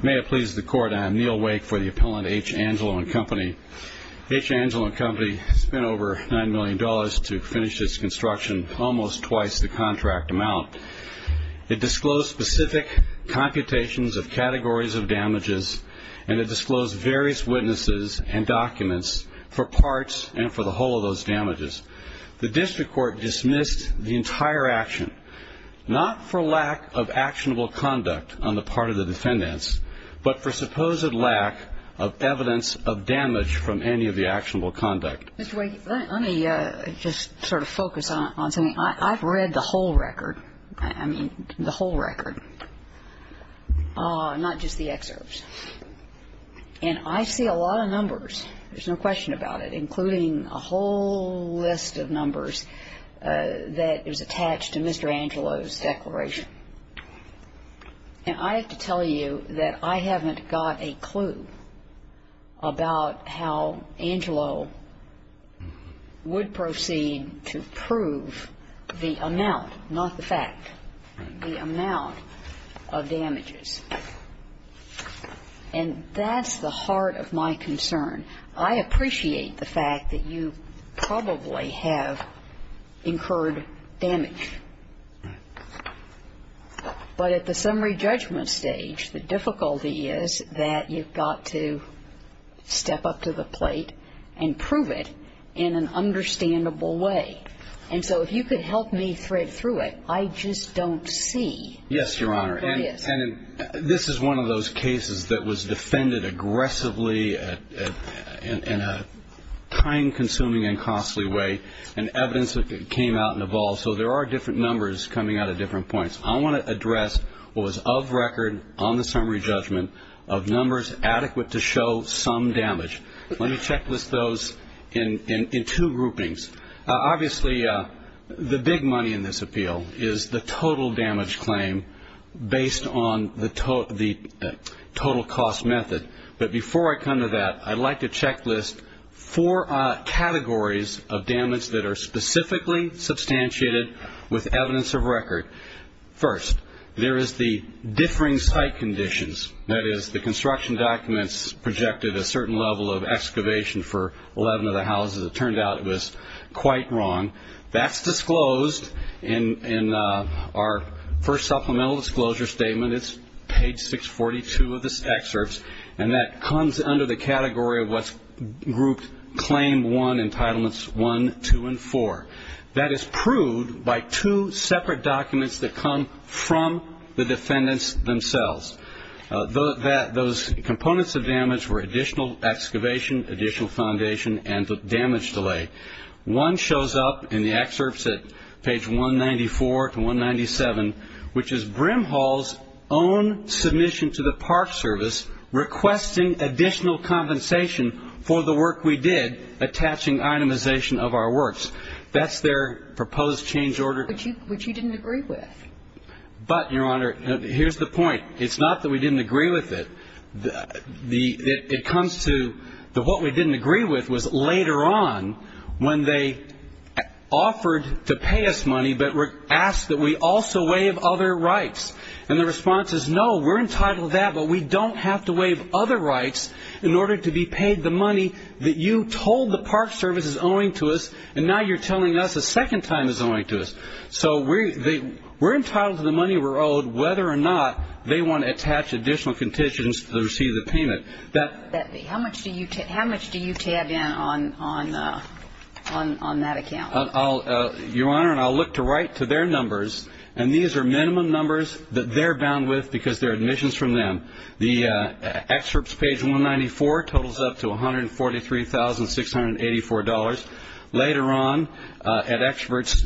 May it please the Court, I am Neil Wake for the appellant H. Angelo & Co. H. Angelo & Co. spent over $9 million to finish this construction, almost twice the contract amount. It disclosed specific computations of categories of damages, and it disclosed various witnesses and documents for parts and for the whole of those damages. The district court dismissed the entire action, not for lack of actionable conduct on the part of the defendants, but for supposed lack of evidence of damage from any of the actionable conduct. Mr. Wake, let me just sort of focus on something. I've read the whole record, I mean the whole record, not just the excerpts, and I see a lot of numbers. There's no question about it, including a whole list of numbers that is attached to Mr. Angelo's declaration. And I have to tell you that I haven't got a clue about how Angelo would proceed to prove the amount, not the fact, the amount of damages. And that's the heart of my concern. I appreciate the fact that you probably have incurred damage. But at the summary judgment stage, the difficulty is that you've got to step up to the plate and prove it in an understandable way. And so if you could help me thread through it, I just don't see what it is. And this is one of those cases that was defended aggressively in a time-consuming and costly way. And evidence came out and evolved. So there are different numbers coming out of different points. I want to address what was of record on the summary judgment of numbers adequate to show some damage. Let me checklist those in two groupings. Obviously, the big money in this appeal is the total damage claim based on the total cost method. But before I come to that, I'd like to checklist four categories of damage that are specifically substantiated with evidence of record. First, there is the differing site conditions. That is, the construction documents projected a certain level of excavation for 11 of the houses. It turned out it was quite wrong. That's disclosed in our first supplemental disclosure statement. It's page 642 of this excerpt, and that comes under the category of what's grouped claim one, entitlements one, two, and four. That is proved by two separate documents that come from the defendants themselves. Those components of damage were additional excavation, additional foundation, and the damage delay. One shows up in the excerpts at page 194 to 197, which is Brimhall's own submission to the Park Service requesting additional compensation for the work we did attaching itemization of our works. That's their proposed change order. Which you didn't agree with. But, Your Honor, here's the point. It's not that we didn't agree with it. It comes to that what we didn't agree with was later on when they offered to pay us money, but asked that we also waive other rights. And the response is, no, we're entitled to that, but we don't have to waive other rights in order to be paid the money that you told the Park Service is owing to us, and now you're telling us a second time is owing to us. So we're entitled to the money we're owed whether or not they want to attach additional conditions to receive the payment. How much do you tab in on that account? Your Honor, and I'll look to write to their numbers, and these are minimum numbers that they're bound with because they're admissions from them. The excerpts page 194 totals up to $143,684. Later on, at Excerpts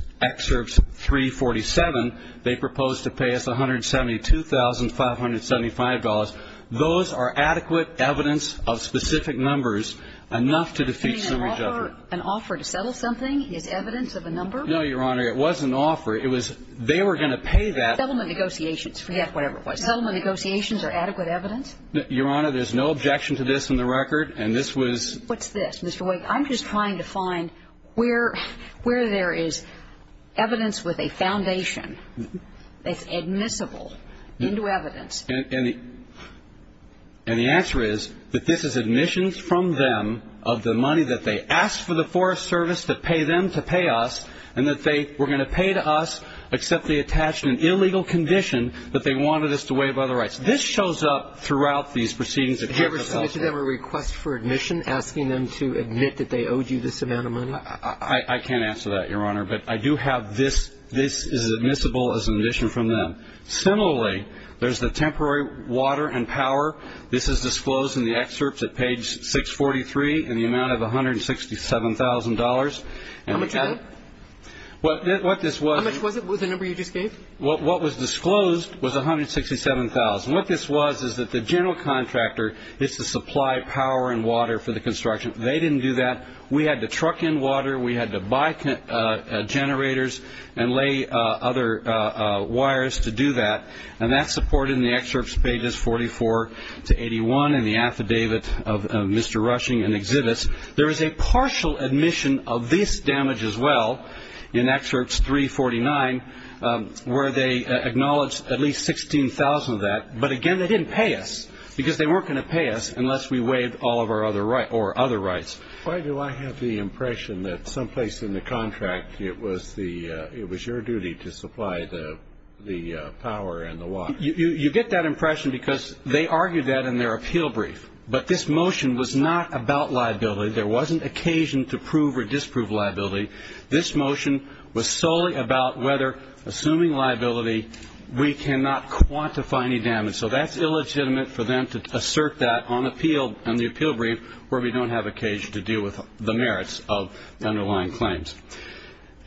347, they proposed to pay us $172,575. Those are adequate evidence of specific numbers enough to defeat summary judgment. An offer to settle something is evidence of a number? No, Your Honor. It wasn't an offer. It was they were going to pay that. Settlement negotiations. Forget whatever it was. Settlement negotiations are adequate evidence? Your Honor, there's no objection to this in the record, and this was ---- What's this? Mr. Wake, I'm just trying to find where there is evidence with a foundation that's admissible into evidence. And the answer is that this is admissions from them of the money that they asked for the Forest Service to pay them to pay us, and that they were going to pay to us, except they attached an illegal condition that they wanted us to waive other rights. This shows up throughout these proceedings that have been held. Is there a request for admission asking them to admit that they owed you this amount of money? I can't answer that, Your Honor. But I do have this. This is admissible as an admission from them. Similarly, there's the temporary water and power. This is disclosed in the excerpts at page 643 in the amount of $167,000. How much of it? What this was ---- How much was it, the number you just gave? What was disclosed was $167,000. What this was is that the general contractor is to supply power and water for the construction. They didn't do that. We had to truck in water. We had to buy generators and lay other wires to do that. And that's supported in the excerpts pages 44 to 81 in the affidavit of Mr. Rushing and Exhibits. There is a partial admission of this damage as well in Excerpts 349 where they acknowledge at least $16,000 of that. But, again, they didn't pay us because they weren't going to pay us unless we waived all of our other rights. Why do I have the impression that someplace in the contract it was your duty to supply the power and the water? You get that impression because they argued that in their appeal brief. But this motion was not about liability. There wasn't occasion to prove or disprove liability. This motion was solely about whether, assuming liability, we cannot quantify any damage. So that's illegitimate for them to assert that on the appeal brief where we don't have occasion to deal with the merits of underlying claims.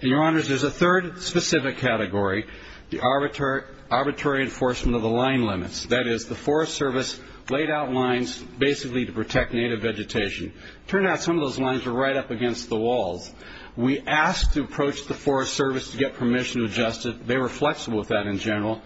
And, Your Honors, there's a third specific category, the arbitrary enforcement of the line limits. That is, the Forest Service laid out lines basically to protect native vegetation. It turned out some of those lines were right up against the walls. We asked to approach the Forest Service to get permission to adjust it. They were flexible with that in general.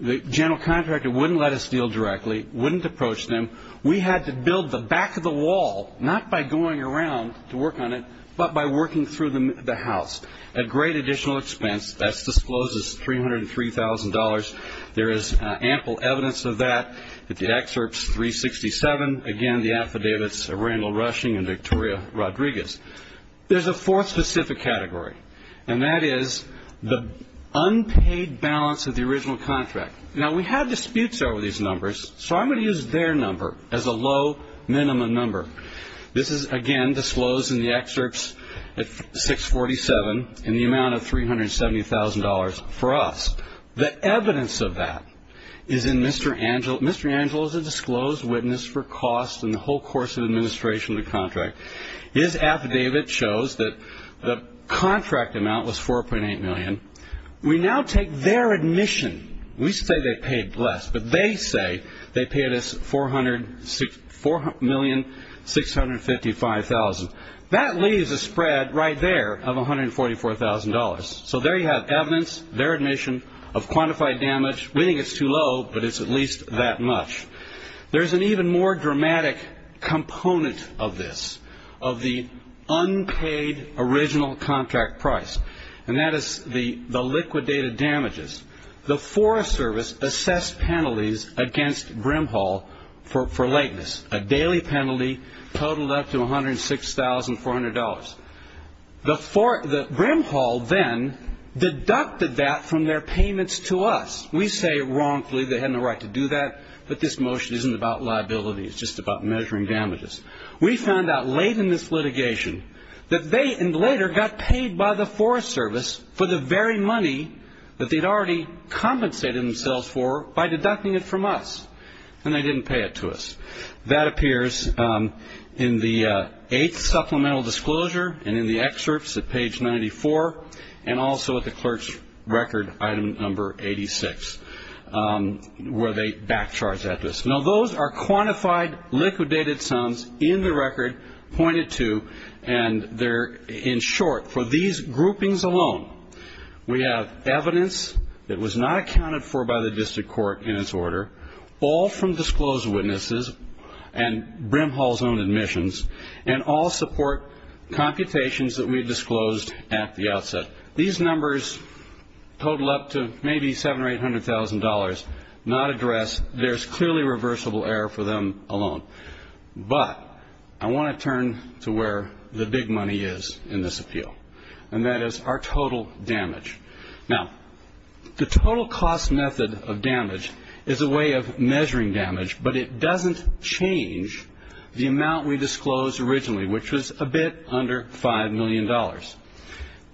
The general contractor wouldn't let us deal directly, wouldn't approach them. We had to build the back of the wall, not by going around to work on it, but by working through the house at great additional expense. That discloses $303,000. There is ample evidence of that at the excerpts 367. Again, the affidavits of Randall Rushing and Victoria Rodriguez. There's a fourth specific category, and that is the unpaid balance of the original contract. Now, we had disputes over these numbers, so I'm going to use their number as a low minimum number. This is, again, disclosed in the excerpts at 647 in the amount of $370,000 for us. The evidence of that is in Mr. Angel. Mr. Angel is a disclosed witness for costs and the whole course of administration of the contract. His affidavit shows that the contract amount was $4.8 million. We now take their admission. We say they paid less, but they say they paid us $4,655,000. That leaves a spread right there of $144,000. So there you have evidence, their admission of quantified damage. We think it's too low, but it's at least that much. There's an even more dramatic component of this, of the unpaid original contract price, and that is the liquidated damages. The Forest Service assessed penalties against Brimhall for lateness, a daily penalty totaled up to $106,400. Brimhall then deducted that from their payments to us. We say wrongfully they had no right to do that, but this motion isn't about liability. It's just about measuring damages. We found out late in this litigation that they later got paid by the Forest Service for the very money that they'd already compensated themselves for by deducting it from us, and they didn't pay it to us. That appears in the eighth supplemental disclosure and in the excerpts at page 94 and also at the clerk's record, item number 86, where they back charge that to us. Now those are quantified liquidated sums in the record pointed to, and they're in short for these groupings alone. We have evidence that was not accounted for by the district court in its order, all from disclosed witnesses and Brimhall's own admissions, and all support computations that we disclosed at the outset. These numbers total up to maybe $700,000 or $800,000, not addressed. There's clearly reversible error for them alone. But I want to turn to where the big money is in this appeal, and that is our total damage. Now, the total cost method of damage is a way of measuring damage, but it doesn't change the amount we disclosed originally, which was a bit under $5 million.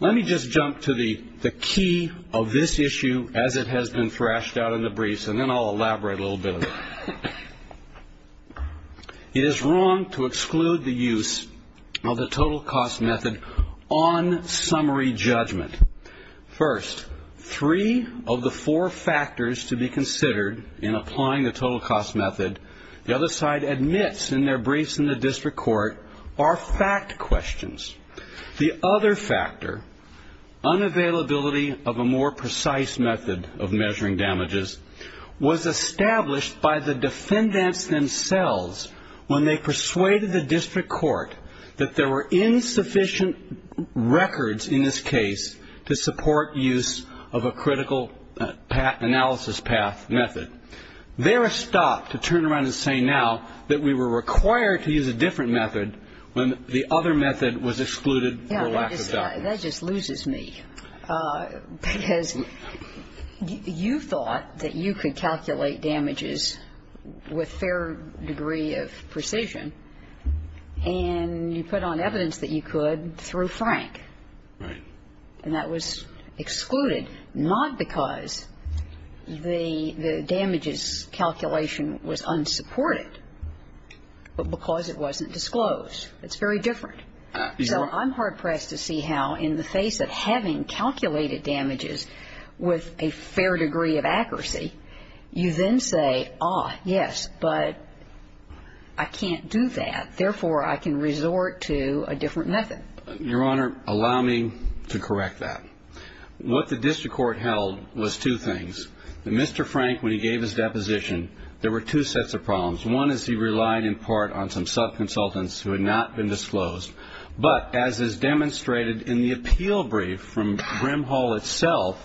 Let me just jump to the key of this issue as it has been thrashed out in the briefs, and then I'll elaborate a little bit on it. It is wrong to exclude the use of the total cost method on summary judgment. First, three of the four factors to be considered in applying the total cost method, the other side admits in their briefs in the district court, are fact questions. The other factor, unavailability of a more precise method of measuring damages, was established by the defendants themselves when they persuaded the district court that there were insufficient records in this case to support use of a critical analysis path method. They were stopped to turn around and say now that we were required to use a different method when the other method was excluded for lack of documents. That just loses me, because you thought that you could calculate damages with fair degree of precision, and you put on evidence that you could through Frank. Right. And that was excluded, not because the damages calculation was unsupported, but because it wasn't disclosed. It's very different. So I'm hard pressed to see how in the face of having calculated damages with a fair degree of accuracy, you then say, ah, yes, but I can't do that. Therefore, I can resort to a different method. Your Honor, allow me to correct that. What the district court held was two things. Mr. Frank, when he gave his deposition, there were two sets of problems. One is he relied in part on some subconsultants who had not been disclosed. But as is demonstrated in the appeal brief from Grimhall itself,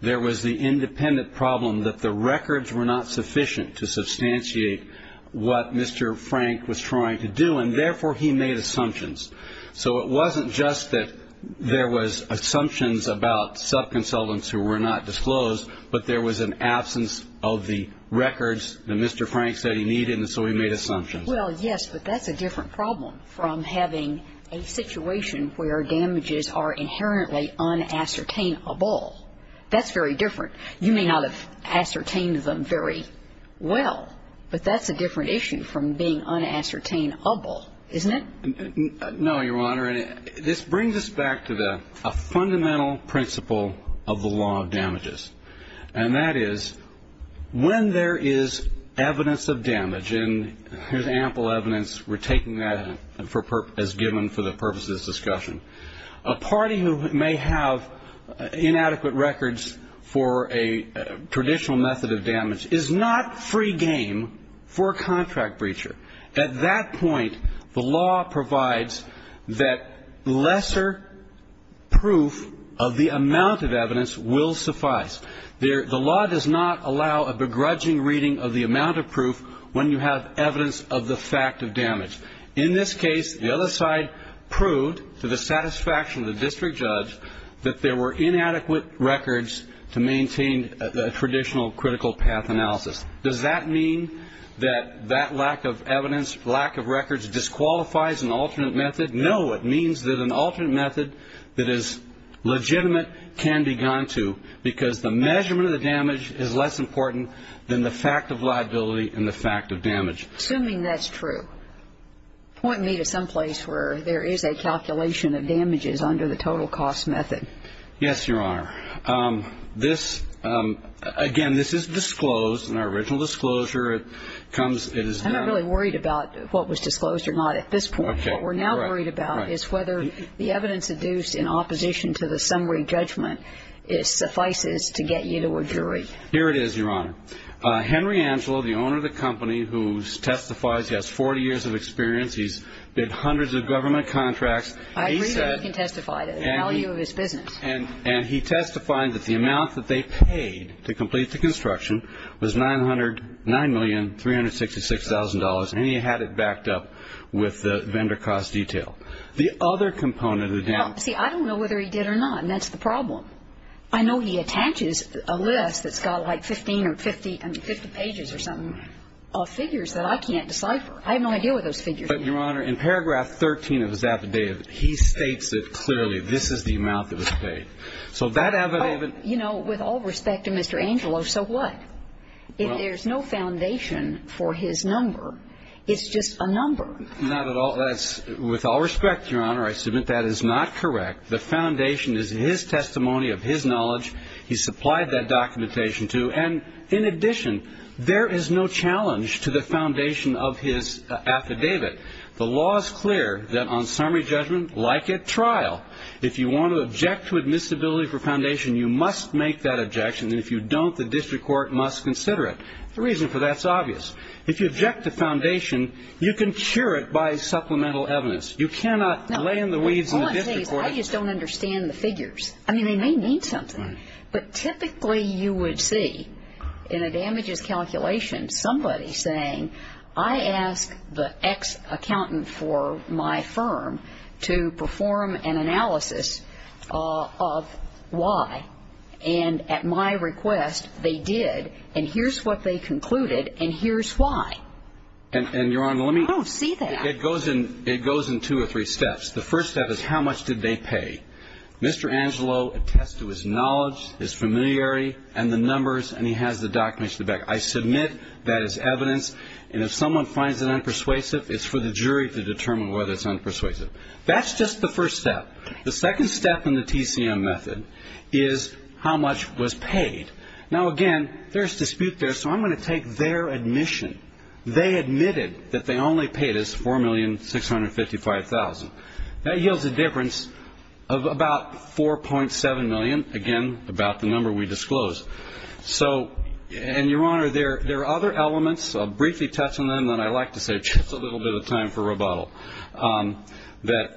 there was the independent problem that the records were not sufficient to substantiate what Mr. Frank was trying to do, and therefore he made assumptions. So it wasn't just that there was assumptions about subconsultants who were not disclosed, but there was an absence of the records that Mr. Frank said he needed, and so he made assumptions. Well, yes, but that's a different problem from having a situation where damages are inherently unascertainable. That's very different. You may not have ascertained them very well, but that's a different issue from being unascertainable, isn't it? No, Your Honor. This brings us back to a fundamental principle of the law of damages, and that is when there is evidence of damage, and here's ample evidence. We're taking that as given for the purposes of this discussion. A party who may have inadequate records for a traditional method of damage is not free game for a contract breacher. At that point, the law provides that lesser proof of the amount of evidence will suffice. The law does not allow a begrudging reading of the amount of proof when you have evidence of the fact of damage. In this case, the other side proved, to the satisfaction of the district judge, that there were inadequate records to maintain a traditional critical path analysis. Does that mean that that lack of evidence, lack of records disqualifies an alternate method? No. It means that an alternate method that is legitimate can be gone to because the measurement of the damage is less important than the fact of liability and the fact of damage. Assuming that's true, point me to some place where there is a calculation of damages under the total cost method. Yes, Your Honor. This, again, this is disclosed in our original disclosure. It comes, it is done. I'm not really worried about what was disclosed or not at this point. Okay. What we're now worried about is whether the evidence induced in opposition to the summary judgment suffices to get you to a jury. Here it is, Your Honor. Henry Angelo, the owner of the company, who testifies, he has 40 years of experience. He's bid hundreds of government contracts. I agree that he can testify to the value of his business. And he testified that the amount that they paid to complete the construction was $909,366,000, and he had it backed up with the vendor cost detail. The other component of the damage. See, I don't know whether he did or not, and that's the problem. I know he attaches a list that's got like 15 or 50 pages or something of figures that I can't decipher. I have no idea what those figures are. But, Your Honor, in paragraph 13 of his affidavit, he states it clearly. This is the amount that was paid. So that affidavit. You know, with all respect to Mr. Angelo, so what? If there's no foundation for his number, it's just a number. Not at all. With all respect, Your Honor, I submit that is not correct. The foundation is his testimony of his knowledge. He supplied that documentation to. And, in addition, there is no challenge to the foundation of his affidavit. The law is clear that on summary judgment, like at trial, if you want to object to admissibility for foundation, you must make that objection. And if you don't, the district court must consider it. The reason for that is obvious. If you object to foundation, you can cure it by supplemental evidence. You cannot lay in the weeds in the district court. No, all I'm saying is I just don't understand the figures. I mean, they may mean something. But typically you would see in a damages calculation somebody saying, I asked the ex-accountant for my firm to perform an analysis of why. And at my request, they did. And here's what they concluded, and here's why. And, Your Honor, let me. I don't see that. It goes in two or three steps. The first step is how much did they pay? Mr. Angelo attests to his knowledge, his familiarity, and the numbers, and he has the documents to back. I submit that as evidence. And if someone finds it unpersuasive, it's for the jury to determine whether it's unpersuasive. That's just the first step. The second step in the TCM method is how much was paid. Now, again, there's dispute there, so I'm going to take their admission. That yields a difference of about $4.7 million, again, about the number we disclosed. So, and, Your Honor, there are other elements. I'll briefly touch on them, then I'd like to save just a little bit of time for rebuttal, that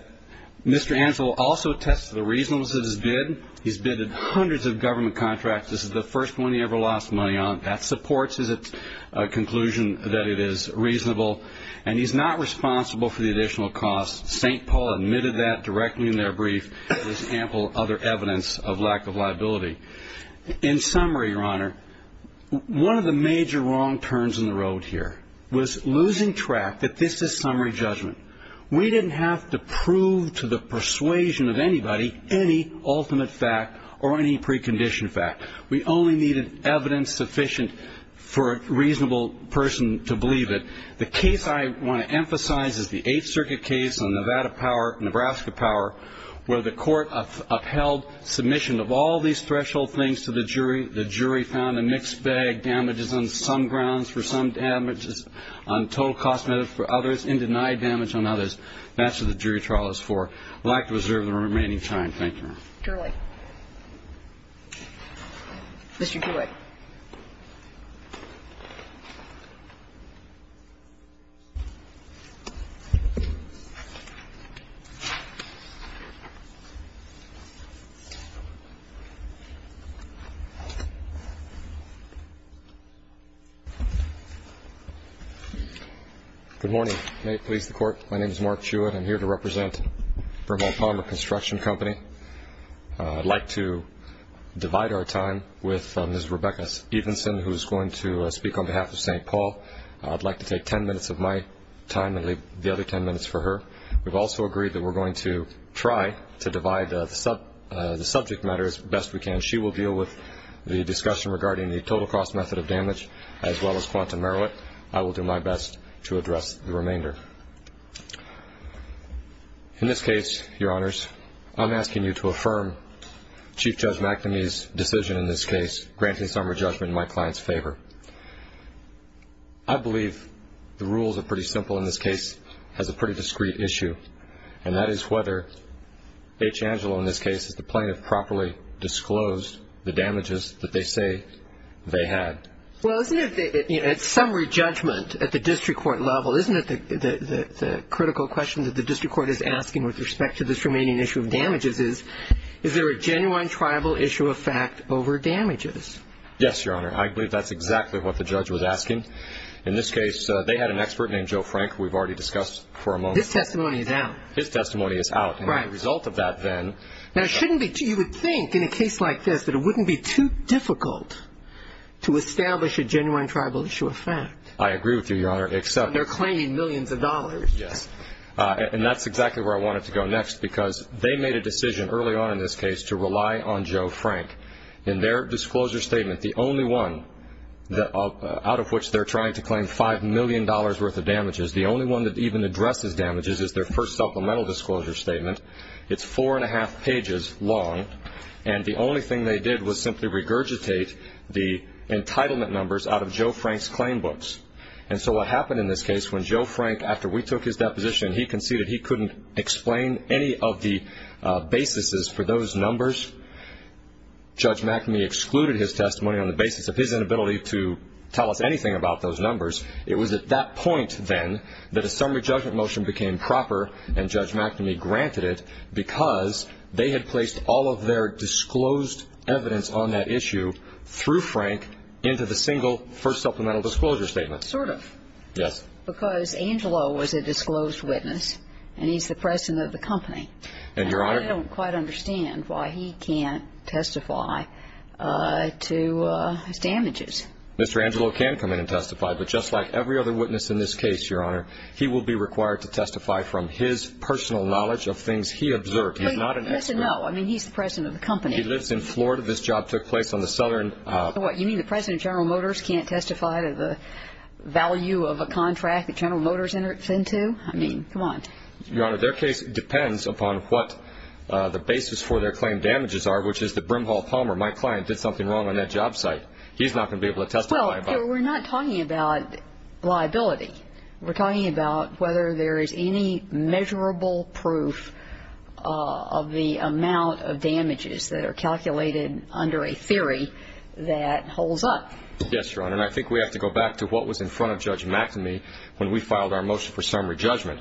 Mr. Angelo also attests to the reasonableness of his bid. He's bidded hundreds of government contracts. This is the first one he ever lost money on. That supports his conclusion that it is reasonable. And he's not responsible for the additional costs. St. Paul admitted that directly in their brief. There's ample other evidence of lack of liability. In summary, Your Honor, one of the major wrong turns in the road here was losing track that this is summary judgment. We didn't have to prove to the persuasion of anybody any ultimate fact or any precondition fact. We only needed evidence sufficient for a reasonable person to believe it. The case I want to emphasize is the Eighth Circuit case on Nevada Power, Nebraska Power, where the court upheld submission of all these threshold things to the jury. The jury found a mixed bag, damages on some grounds for some damages, on total cost for others, and denied damage on others. That's what the jury trial is for. I'd like to reserve the remaining time. Thank you, Your Honor. Ms. Turek. Mr. Turek. Good morning. May it please the Court, my name is Mark Turek. I'm here to represent Vermont Palmer Construction Company. I'd like to divide our time with Ms. Rebecca Evenson, who is going to speak on behalf of St. Paul. I'd like to take ten minutes of my time and leave the other ten minutes for her. We've also agreed that we're going to try to divide the subject matter as best we can. She will deal with the discussion regarding the total cost method of damage as well as quantum merit. I will do my best to address the remainder. In this case, Your Honors, I'm asking you to affirm Chief Judge McNamee's decision in this case, granting summary judgment in my client's favor. I believe the rules are pretty simple in this case, has a pretty discreet issue, and that is whether H. Angelo, in this case, is the plaintiff, properly disclosed the damages that they say they had. Well, isn't it summary judgment at the district court level, isn't it the critical question that the district court is asking with respect to this remaining issue of damages is, is there a genuine tribal issue of fact over damages? Yes, Your Honor. I believe that's exactly what the judge was asking. In this case, they had an expert named Joe Frank, who we've already discussed for a moment. His testimony is out. His testimony is out. Right. And the result of that then. Now, you would think in a case like this that it wouldn't be too difficult to establish a genuine tribal issue of fact. I agree with you, Your Honor, except they're claiming millions of dollars. Yes. And that's exactly where I wanted to go next, because they made a decision early on in this case to rely on Joe Frank. In their disclosure statement, the only one out of which they're trying to claim $5 million worth of damages, the only one that even addresses damages is their first supplemental disclosure statement. It's four-and-a-half pages long, and the only thing they did was simply regurgitate the entitlement numbers out of Joe Frank's claim books. And so what happened in this case, when Joe Frank, after we took his deposition, he conceded he couldn't explain any of the basis for those numbers, Judge McNamee excluded his testimony on the basis of his inability to tell us anything about those numbers. It was at that point, then, that a summary judgment motion became proper, and Judge McNamee granted it, because they had placed all of their disclosed evidence on that issue through Frank into the single first supplemental disclosure statement. Sort of. Yes. Because Angelo was a disclosed witness, and he's the president of the company. And, Your Honor – And I don't quite understand why he can't testify to his damages. Mr. Angelo can come in and testify, but just like every other witness in this case, Your Honor, he will be required to testify from his personal knowledge of things he observed. He's not an expert. Wait, listen, no. I mean, he's the president of the company. He lives in Florida. This job took place on the southern – You know what? You mean the president of General Motors can't testify to the value of a contract that General Motors enters into? I mean, come on. Your Honor, their case depends upon what the basis for their claim damages are, which is that Brimhall Palmer, my client, did something wrong on that job site. He's not going to be able to testify about it. Well, we're not talking about liability. We're talking about whether there is any measurable proof of the amount of damages that are calculated under a theory that holds up. Yes, Your Honor. And I think we have to go back to what was in front of Judge McNamee when we filed our motion for summary judgment.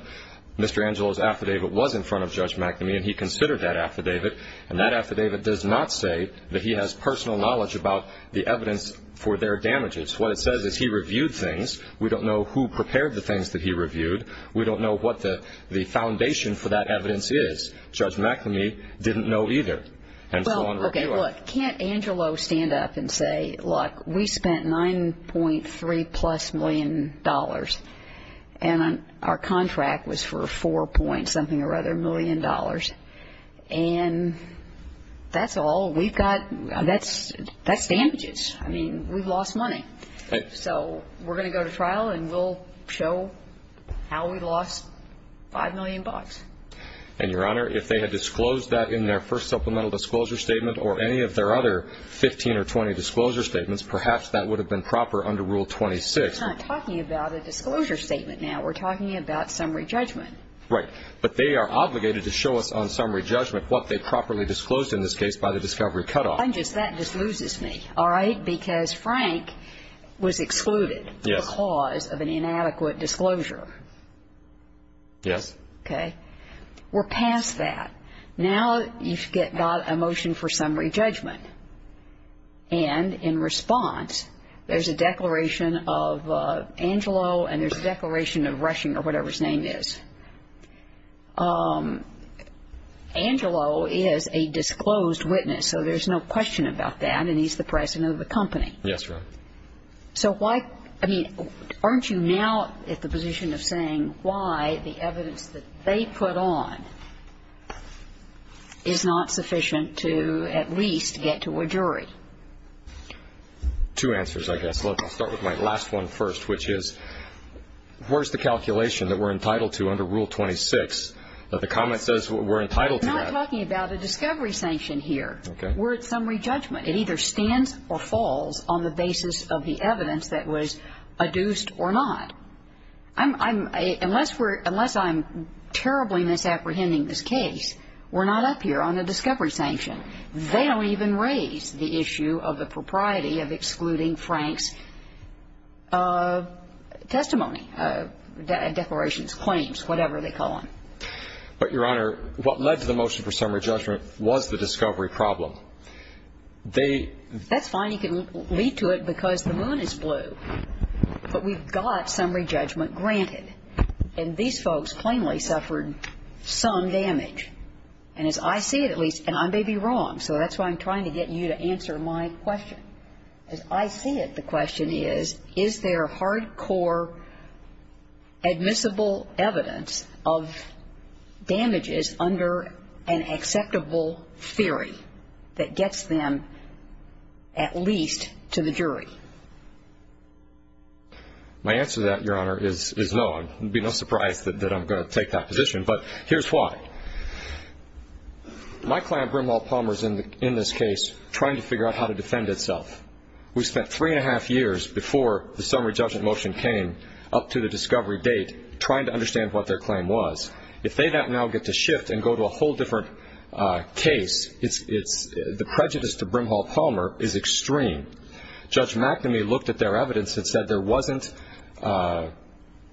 Mr. Angelo's affidavit was in front of Judge McNamee, and he considered that affidavit. And that affidavit does not say that he has personal knowledge about the evidence for their damages. What it says is he reviewed things. We don't know who prepared the things that he reviewed. We don't know what the foundation for that evidence is. Judge McNamee didn't know either. And so on – Well, okay, look. Can't Angelo stand up and say, look, we spent $9.3-plus million, and our contract was for $4-point-something-or-other million dollars, and that's all we've got. That's damages. I mean, we've lost money. So we're going to go to trial, and we'll show how we lost $5 million. And, Your Honor, if they had disclosed that in their first supplemental disclosure statement or any of their other 15 or 20 disclosure statements, perhaps that would have been proper under Rule 26. We're not talking about a disclosure statement now. We're talking about summary judgment. Right. But they are obligated to show us on summary judgment what they properly disclosed in this case by the discovery cutoff. That just loses me, all right, because Frank was excluded because of an inadequate disclosure. Yes. Okay. We're past that. Now you've got a motion for summary judgment. And in response, there's a declaration of Angelo and there's a declaration of Rushing or whatever his name is. Angelo is a disclosed witness, so there's no question about that, and he's the president of the company. Yes, Your Honor. So why, I mean, aren't you now at the position of saying why the evidence that they put on is not sufficient to at least get to a jury? Two answers, I guess. Let's start with my last one first, which is where's the calculation that we're entitled to under Rule 26? The comment says we're entitled to that. We're not talking about a discovery sanction here. Okay. We're at summary judgment. It either stands or falls on the basis of the evidence that was adduced or not. Unless I'm terribly misapprehending this case, we're not up here on the discovery sanction. They don't even raise the issue of the propriety of excluding Frank's testimony, declarations, claims, whatever they call them. But, Your Honor, what led to the motion for summary judgment was the discovery problem. That's fine. You can lead to it because the moon is blue. But we've got summary judgment granted. And these folks plainly suffered some damage. And as I see it, at least, and I may be wrong, so that's why I'm trying to get you to answer my question. As I see it, the question is, is there hardcore admissible evidence of damages under an acceptable theory that gets them at least to the jury? My answer to that, Your Honor, is no. It would be no surprise that I'm going to take that position. But here's why. My client, Brimhall Palmer, is in this case trying to figure out how to defend itself. We spent three and a half years before the summary judgment motion came up to the discovery date trying to understand what their claim was. If they now get to shift and go to a whole different case, the prejudice to Brimhall Palmer is extreme. Judge McNamee looked at their evidence and said there wasn't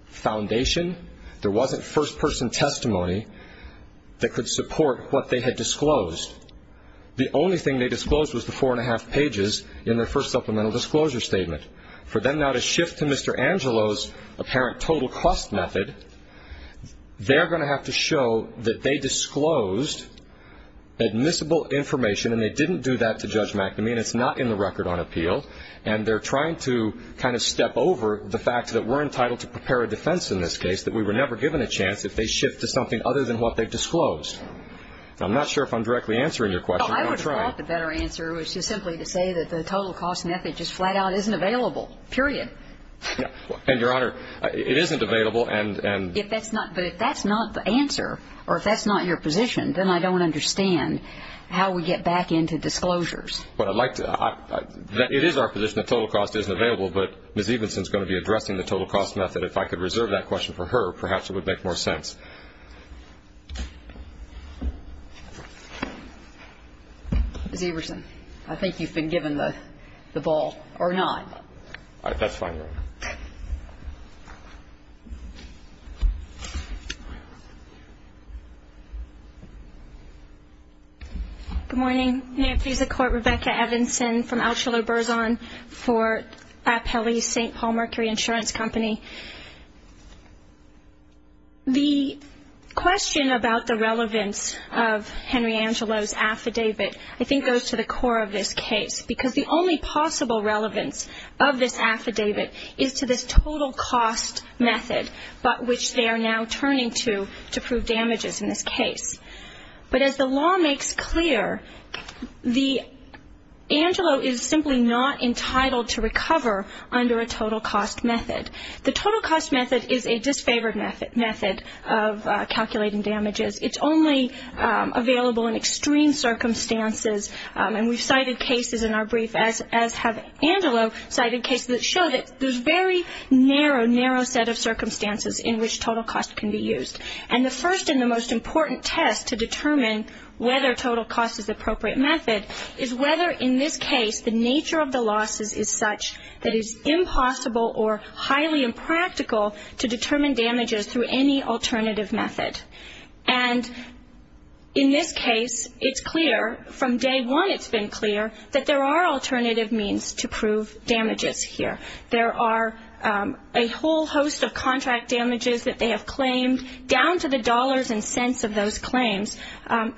foundation, there wasn't first-person testimony that could support what they had disclosed. The only thing they disclosed was the four and a half pages in their first supplemental disclosure statement. For them now to shift to Mr. Angelo's apparent total cost method, they're going to have to show that they disclosed admissible information, and they didn't do that to Judge McNamee, and it's not in the record on appeal. And they're trying to kind of step over the fact that we're entitled to prepare a defense in this case, that we were never given a chance if they shift to something other than what they disclosed. I'm not sure if I'm directly answering your question, but I'm trying. Well, I would have thought the better answer was just simply to say that the total cost method just flat-out isn't available, period. And, Your Honor, it isn't available, and — But if that's not the answer, or if that's not your position, then I don't understand how we get back into disclosures. Well, I'd like to — it is our position that total cost isn't available, but Ms. Iverson's going to be addressing the total cost method. If I could reserve that question for her, perhaps it would make more sense. Ms. Iverson, I think you've been given the ball, or not. All right. That's fine, Your Honor. Thank you. Good morning. May it please the Court, Rebecca Evanson from Altshuler-Burzon for Appellee St. Paul Mercury Insurance Company. The question about the relevance of Henry Angelo's affidavit, I think, goes to the core of this case, because the only possible relevance of this affidavit is to this total cost method, but which they are now turning to to prove damages in this case. But as the law makes clear, the — Angelo is simply not entitled to recover under a total cost method. The total cost method is a disfavored method of calculating damages. It's only available in extreme circumstances. And we've cited cases in our brief, as have Angelo, cited cases that show that there's a very narrow, narrow set of circumstances in which total cost can be used. And the first and the most important test to determine whether total cost is the appropriate method is whether, in this case, the nature of the losses is such that it's impossible or highly impractical to determine damages through any alternative method. And in this case, it's clear, from day one it's been clear, that there are alternative means to prove damages here. There are a whole host of contract damages that they have claimed, down to the dollars and cents of those claims,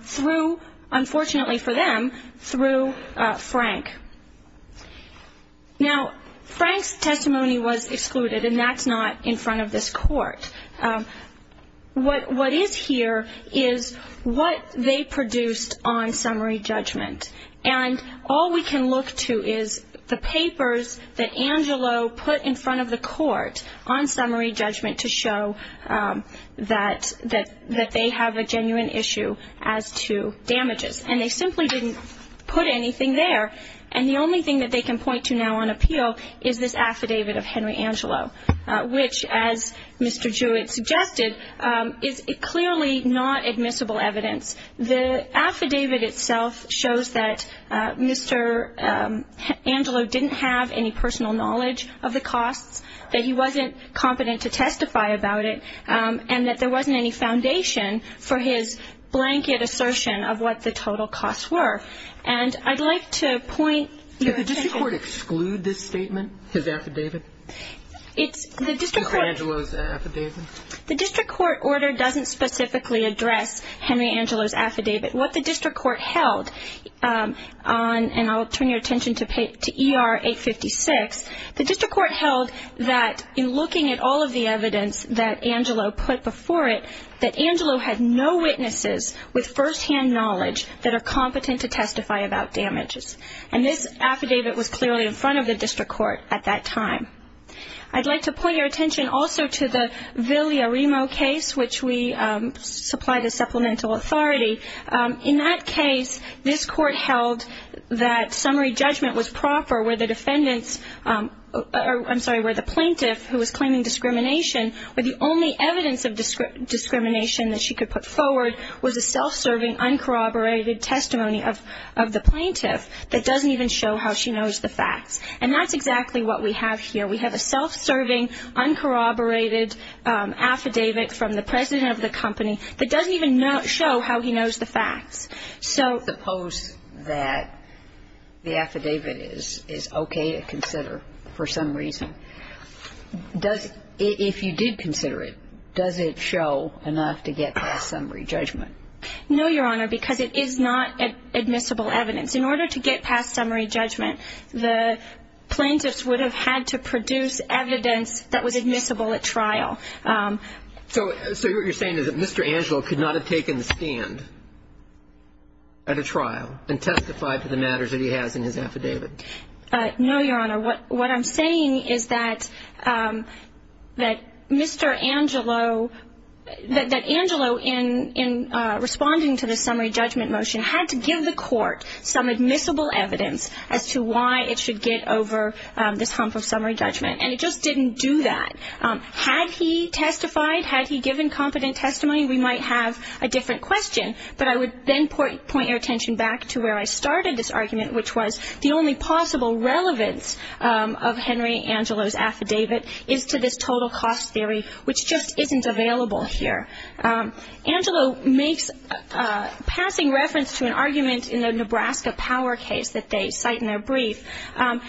through, unfortunately for them, through Frank. Now, Frank's testimony was excluded, and that's not in front of this Court. What is here is what they produced on summary judgment. And all we can look to is the papers that Angelo put in front of the Court on summary judgment to show that they have a genuine issue as to damages. And they simply didn't put anything there. And the only thing that they can point to now on appeal is this affidavit of Henry Angelo, which, as Mr. Jewett suggested, is clearly not admissible evidence. The affidavit itself shows that Mr. Angelo didn't have any personal knowledge of the costs, that he wasn't competent to testify about it, and that there wasn't any foundation for his blanket assertion of what the total costs were. And I'd like to point your attention to this. Is this his statement, his affidavit? Mr. Angelo's affidavit? The district court order doesn't specifically address Henry Angelo's affidavit. What the district court held, and I'll turn your attention to ER 856, the district court held that in looking at all of the evidence that Angelo put before it, that Angelo had no witnesses with firsthand knowledge that are competent to testify about damages. And this affidavit was clearly in front of the district court at that time. I'd like to point your attention also to the Villarimo case, which we supplied as supplemental authority. In that case, this court held that summary judgment was proper, where the plaintiff, who was claiming discrimination, where the only evidence of discrimination that she could put forward was a self-serving, uncorroborated testimony of the plaintiff that doesn't even show how she knows the facts. And that's exactly what we have here. We have a self-serving, uncorroborated affidavit from the president of the company that doesn't even show how he knows the facts. Suppose that the affidavit is okay to consider for some reason. If you did consider it, does it show enough to get past summary judgment? No, Your Honor, because it is not admissible evidence. In order to get past summary judgment, the plaintiffs would have had to produce evidence that was admissible at trial. So what you're saying is that Mr. Angelo could not have taken the stand at a trial and testified to the matters that he has in his affidavit? No, Your Honor. What I'm saying is that Mr. Angelo, that Angelo, in responding to the summary judgment motion, had to give the court some admissible evidence as to why it should get over this hump of summary judgment. And it just didn't do that. Had he testified, had he given competent testimony, we might have a different question. But I would then point your attention back to where I started this argument, which was the only possible relevance of Henry Angelo's affidavit is to this total cost theory, which just isn't available here. Angelo makes passing reference to an argument in the Nebraska Power case that they cite in their brief, and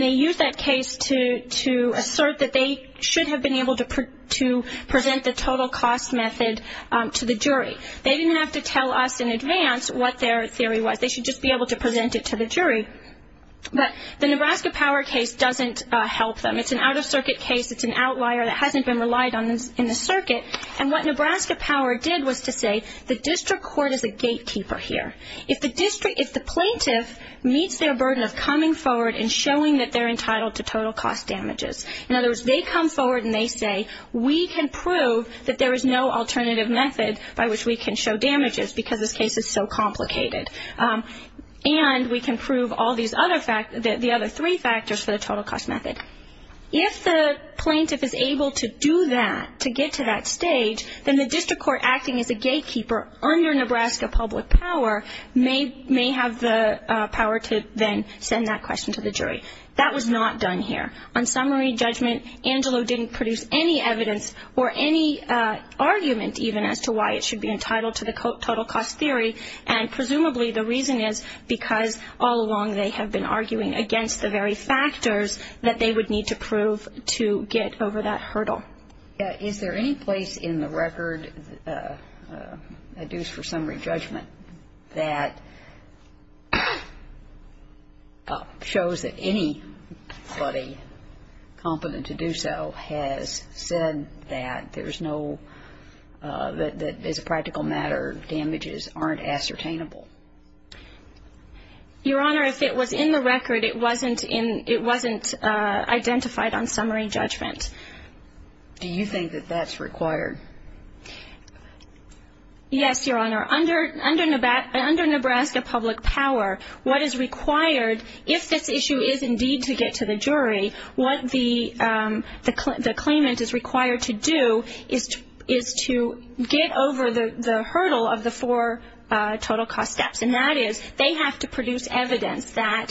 they use that case to assert that they should have been able to present the total cost method to the jury. They didn't have to tell us in advance what their theory was. They should just be able to present it to the jury. But the Nebraska Power case doesn't help them. It's an out-of-circuit case. It's an outlier that hasn't been relied on in the circuit. And what Nebraska Power did was to say the district court is a gatekeeper here. If the plaintiff meets their burden of coming forward and showing that they're entitled to total cost damages, in other words, they come forward and they say, we can prove that there is no alternative method by which we can show damages because this case is so complicated. And we can prove all these other factors, the other three factors for the total cost method. If the plaintiff is able to do that, to get to that stage, then the district court acting as a gatekeeper under Nebraska Public Power may have the power to then send that question to the jury. That was not done here. On summary judgment, Angelo didn't produce any evidence or any argument even as to why it should be entitled to the total cost theory. And presumably the reason is because all along they have been arguing against the very factors that they would need to prove to get over that hurdle. Is there any place in the record, a deuce for summary judgment, that shows that anybody competent to do so has said that there's no, that as a practical matter, damages aren't ascertainable? Your Honor, if it was in the record, it wasn't identified on summary judgment. Do you think that that's required? Yes, Your Honor. Under Nebraska Public Power, what is required, if this issue is indeed to get to the jury, what the claimant is required to do is to get over the hurdle of the four total cost steps, and that is they have to produce evidence that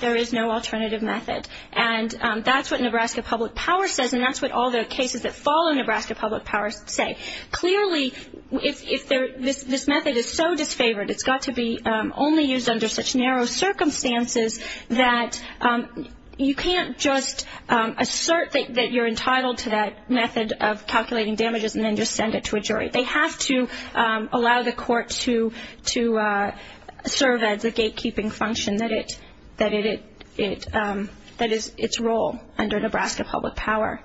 there is no alternative method. And that's what Nebraska Public Power says, and that's what all the cases that fall under Nebraska Public Power say. Clearly, if this method is so disfavored, it's got to be only used under such narrow circumstances that you can't just assert that you're entitled to that method of calculating damages and then just send it to a jury. They have to allow the court to serve as a gatekeeping function that is its role under Nebraska Public Power.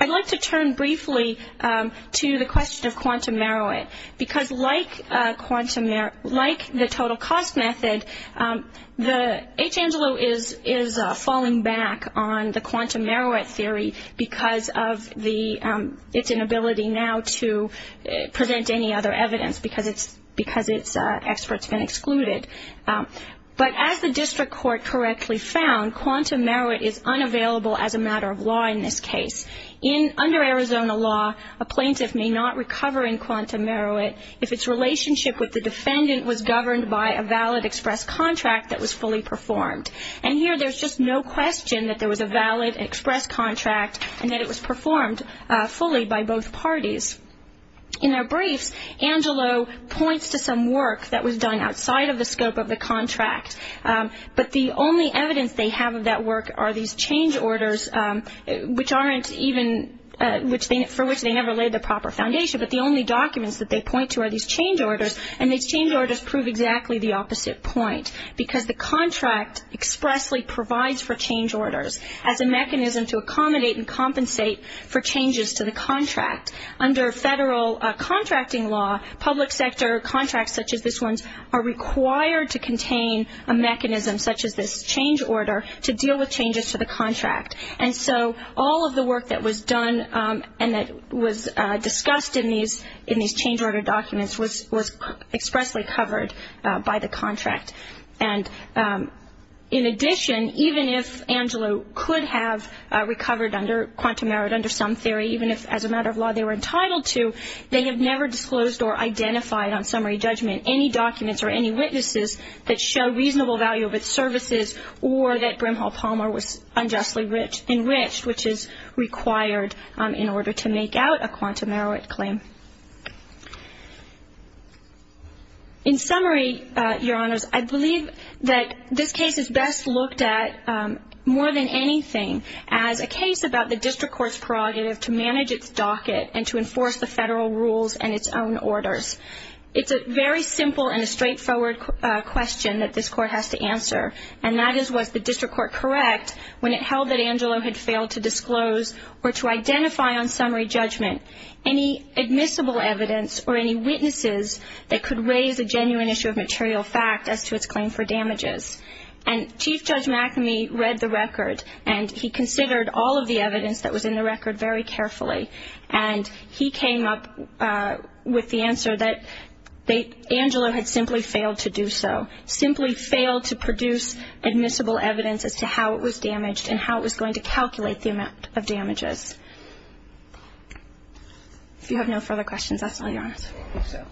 I'd like to turn briefly to the question of quantum merit, because like the total cost method, H. Angelo is falling back on the quantum merit theory because of its inability now to present any other evidence, because its experts have been excluded. But as the district court correctly found, quantum merit is unavailable as a matter of law in this case. Under Arizona law, a plaintiff may not recover in quantum merit if its relationship with the defendant was governed by a valid express contract that was fully performed. And here there's just no question that there was a valid express contract and that it was performed fully by both parties. In our briefs, Angelo points to some work that was done outside of the scope of the contract, but the only evidence they have of that work are these change orders, for which they never laid the proper foundation. But the only documents that they point to are these change orders, and these change orders prove exactly the opposite point, because the contract expressly provides for change orders as a mechanism to accommodate and compensate for changes to the contract. Under federal contracting law, public sector contracts such as this one are required to contain a mechanism, such as this change order, to deal with changes to the contract. And so all of the work that was done and that was discussed in these change order documents was expressly covered by the contract. And in addition, even if Angelo could have recovered under quantum merit under some theory, even if as a matter of law they were entitled to, they have never disclosed or identified on summary judgment any documents or any witnesses that show reasonable value of its services or that Brimhall Palmer was unjustly enriched, which is required in order to make out a quantum merit claim. In summary, Your Honors, I believe that this case is best looked at more than anything as a case about the district court's prerogative to manage its docket and to enforce the federal rules and its own orders. It's a very simple and a straightforward question that this court has to answer, and that is, was the district court correct when it held that Angelo had failed to disclose or to identify on summary judgment any admissible evidence or any witnesses that could raise a genuine issue of material fact as to its claim for damages? And Chief Judge McAmey read the record, and he considered all of the evidence that was in the record very carefully, and he came up with the answer that Angelo had simply failed to do so, simply failed to produce admissible evidence as to how it was damaged If you have no further questions, that's all, Your Honors. I hope so.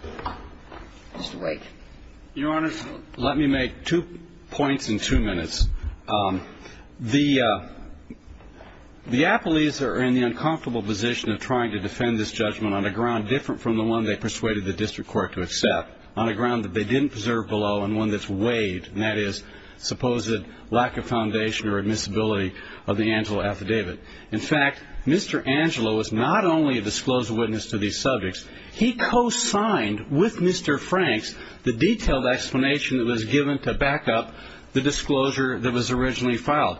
Just wait. Your Honors, let me make two points in two minutes. The appellees are in the uncomfortable position of trying to defend this judgment on a ground different from the one they persuaded the district court to accept, on a ground that they didn't preserve below and one that's weighed, and that is supposed lack of foundation or admissibility of the Angelo affidavit. In fact, Mr. Angelo was not only a disclosed witness to these subjects. He co-signed with Mr. Franks the detailed explanation that was given to back up the disclosure that was originally filed.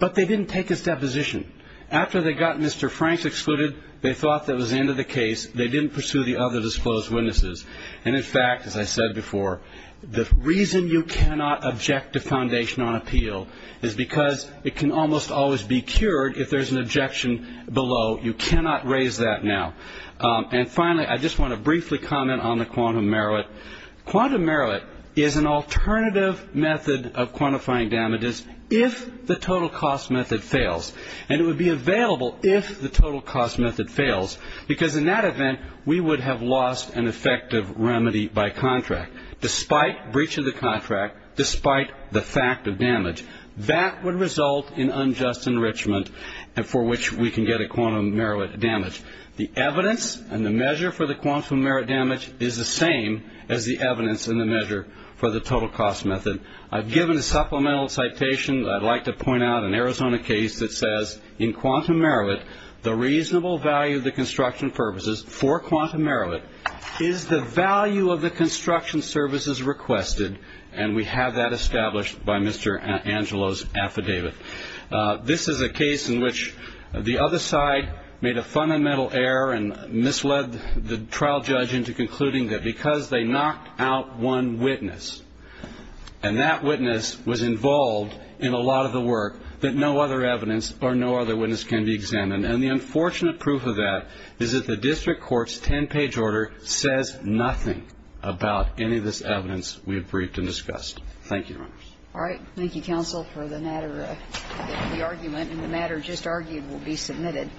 But they didn't take his deposition. After they got Mr. Franks excluded, they thought that was the end of the case. They didn't pursue the other disclosed witnesses. And in fact, as I said before, the reason you cannot object to foundation on appeal is because it can almost always be cured if there's an objection below. You cannot raise that now. And finally, I just want to briefly comment on the quantum merit. Quantum merit is an alternative method of quantifying damages if the total cost method fails. And it would be available if the total cost method fails, because in that event we would have lost an effective remedy by contract, despite breach of the contract, despite the fact of damage. That would result in unjust enrichment for which we can get a quantum merit damage. The evidence and the measure for the quantum merit damage is the same as the evidence and the measure for the total cost method. I've given a supplemental citation that I'd like to point out in Arizona case that says, in quantum merit, the reasonable value of the construction purposes for quantum merit is the value of the construction services requested. And we have that established by Mr. Angelo's affidavit. This is a case in which the other side made a fundamental error and misled the trial judge into concluding that because they knocked out one witness and that witness was involved in a lot of the work, that no other evidence or no other witness can be examined. And the unfortunate proof of that is that the district court's 10-page order says nothing about any of this evidence we have briefed and discussed. Thank you, Your Honors. All right. Thank you, counsel, for the matter, the argument. And the matter just argued will be submitted.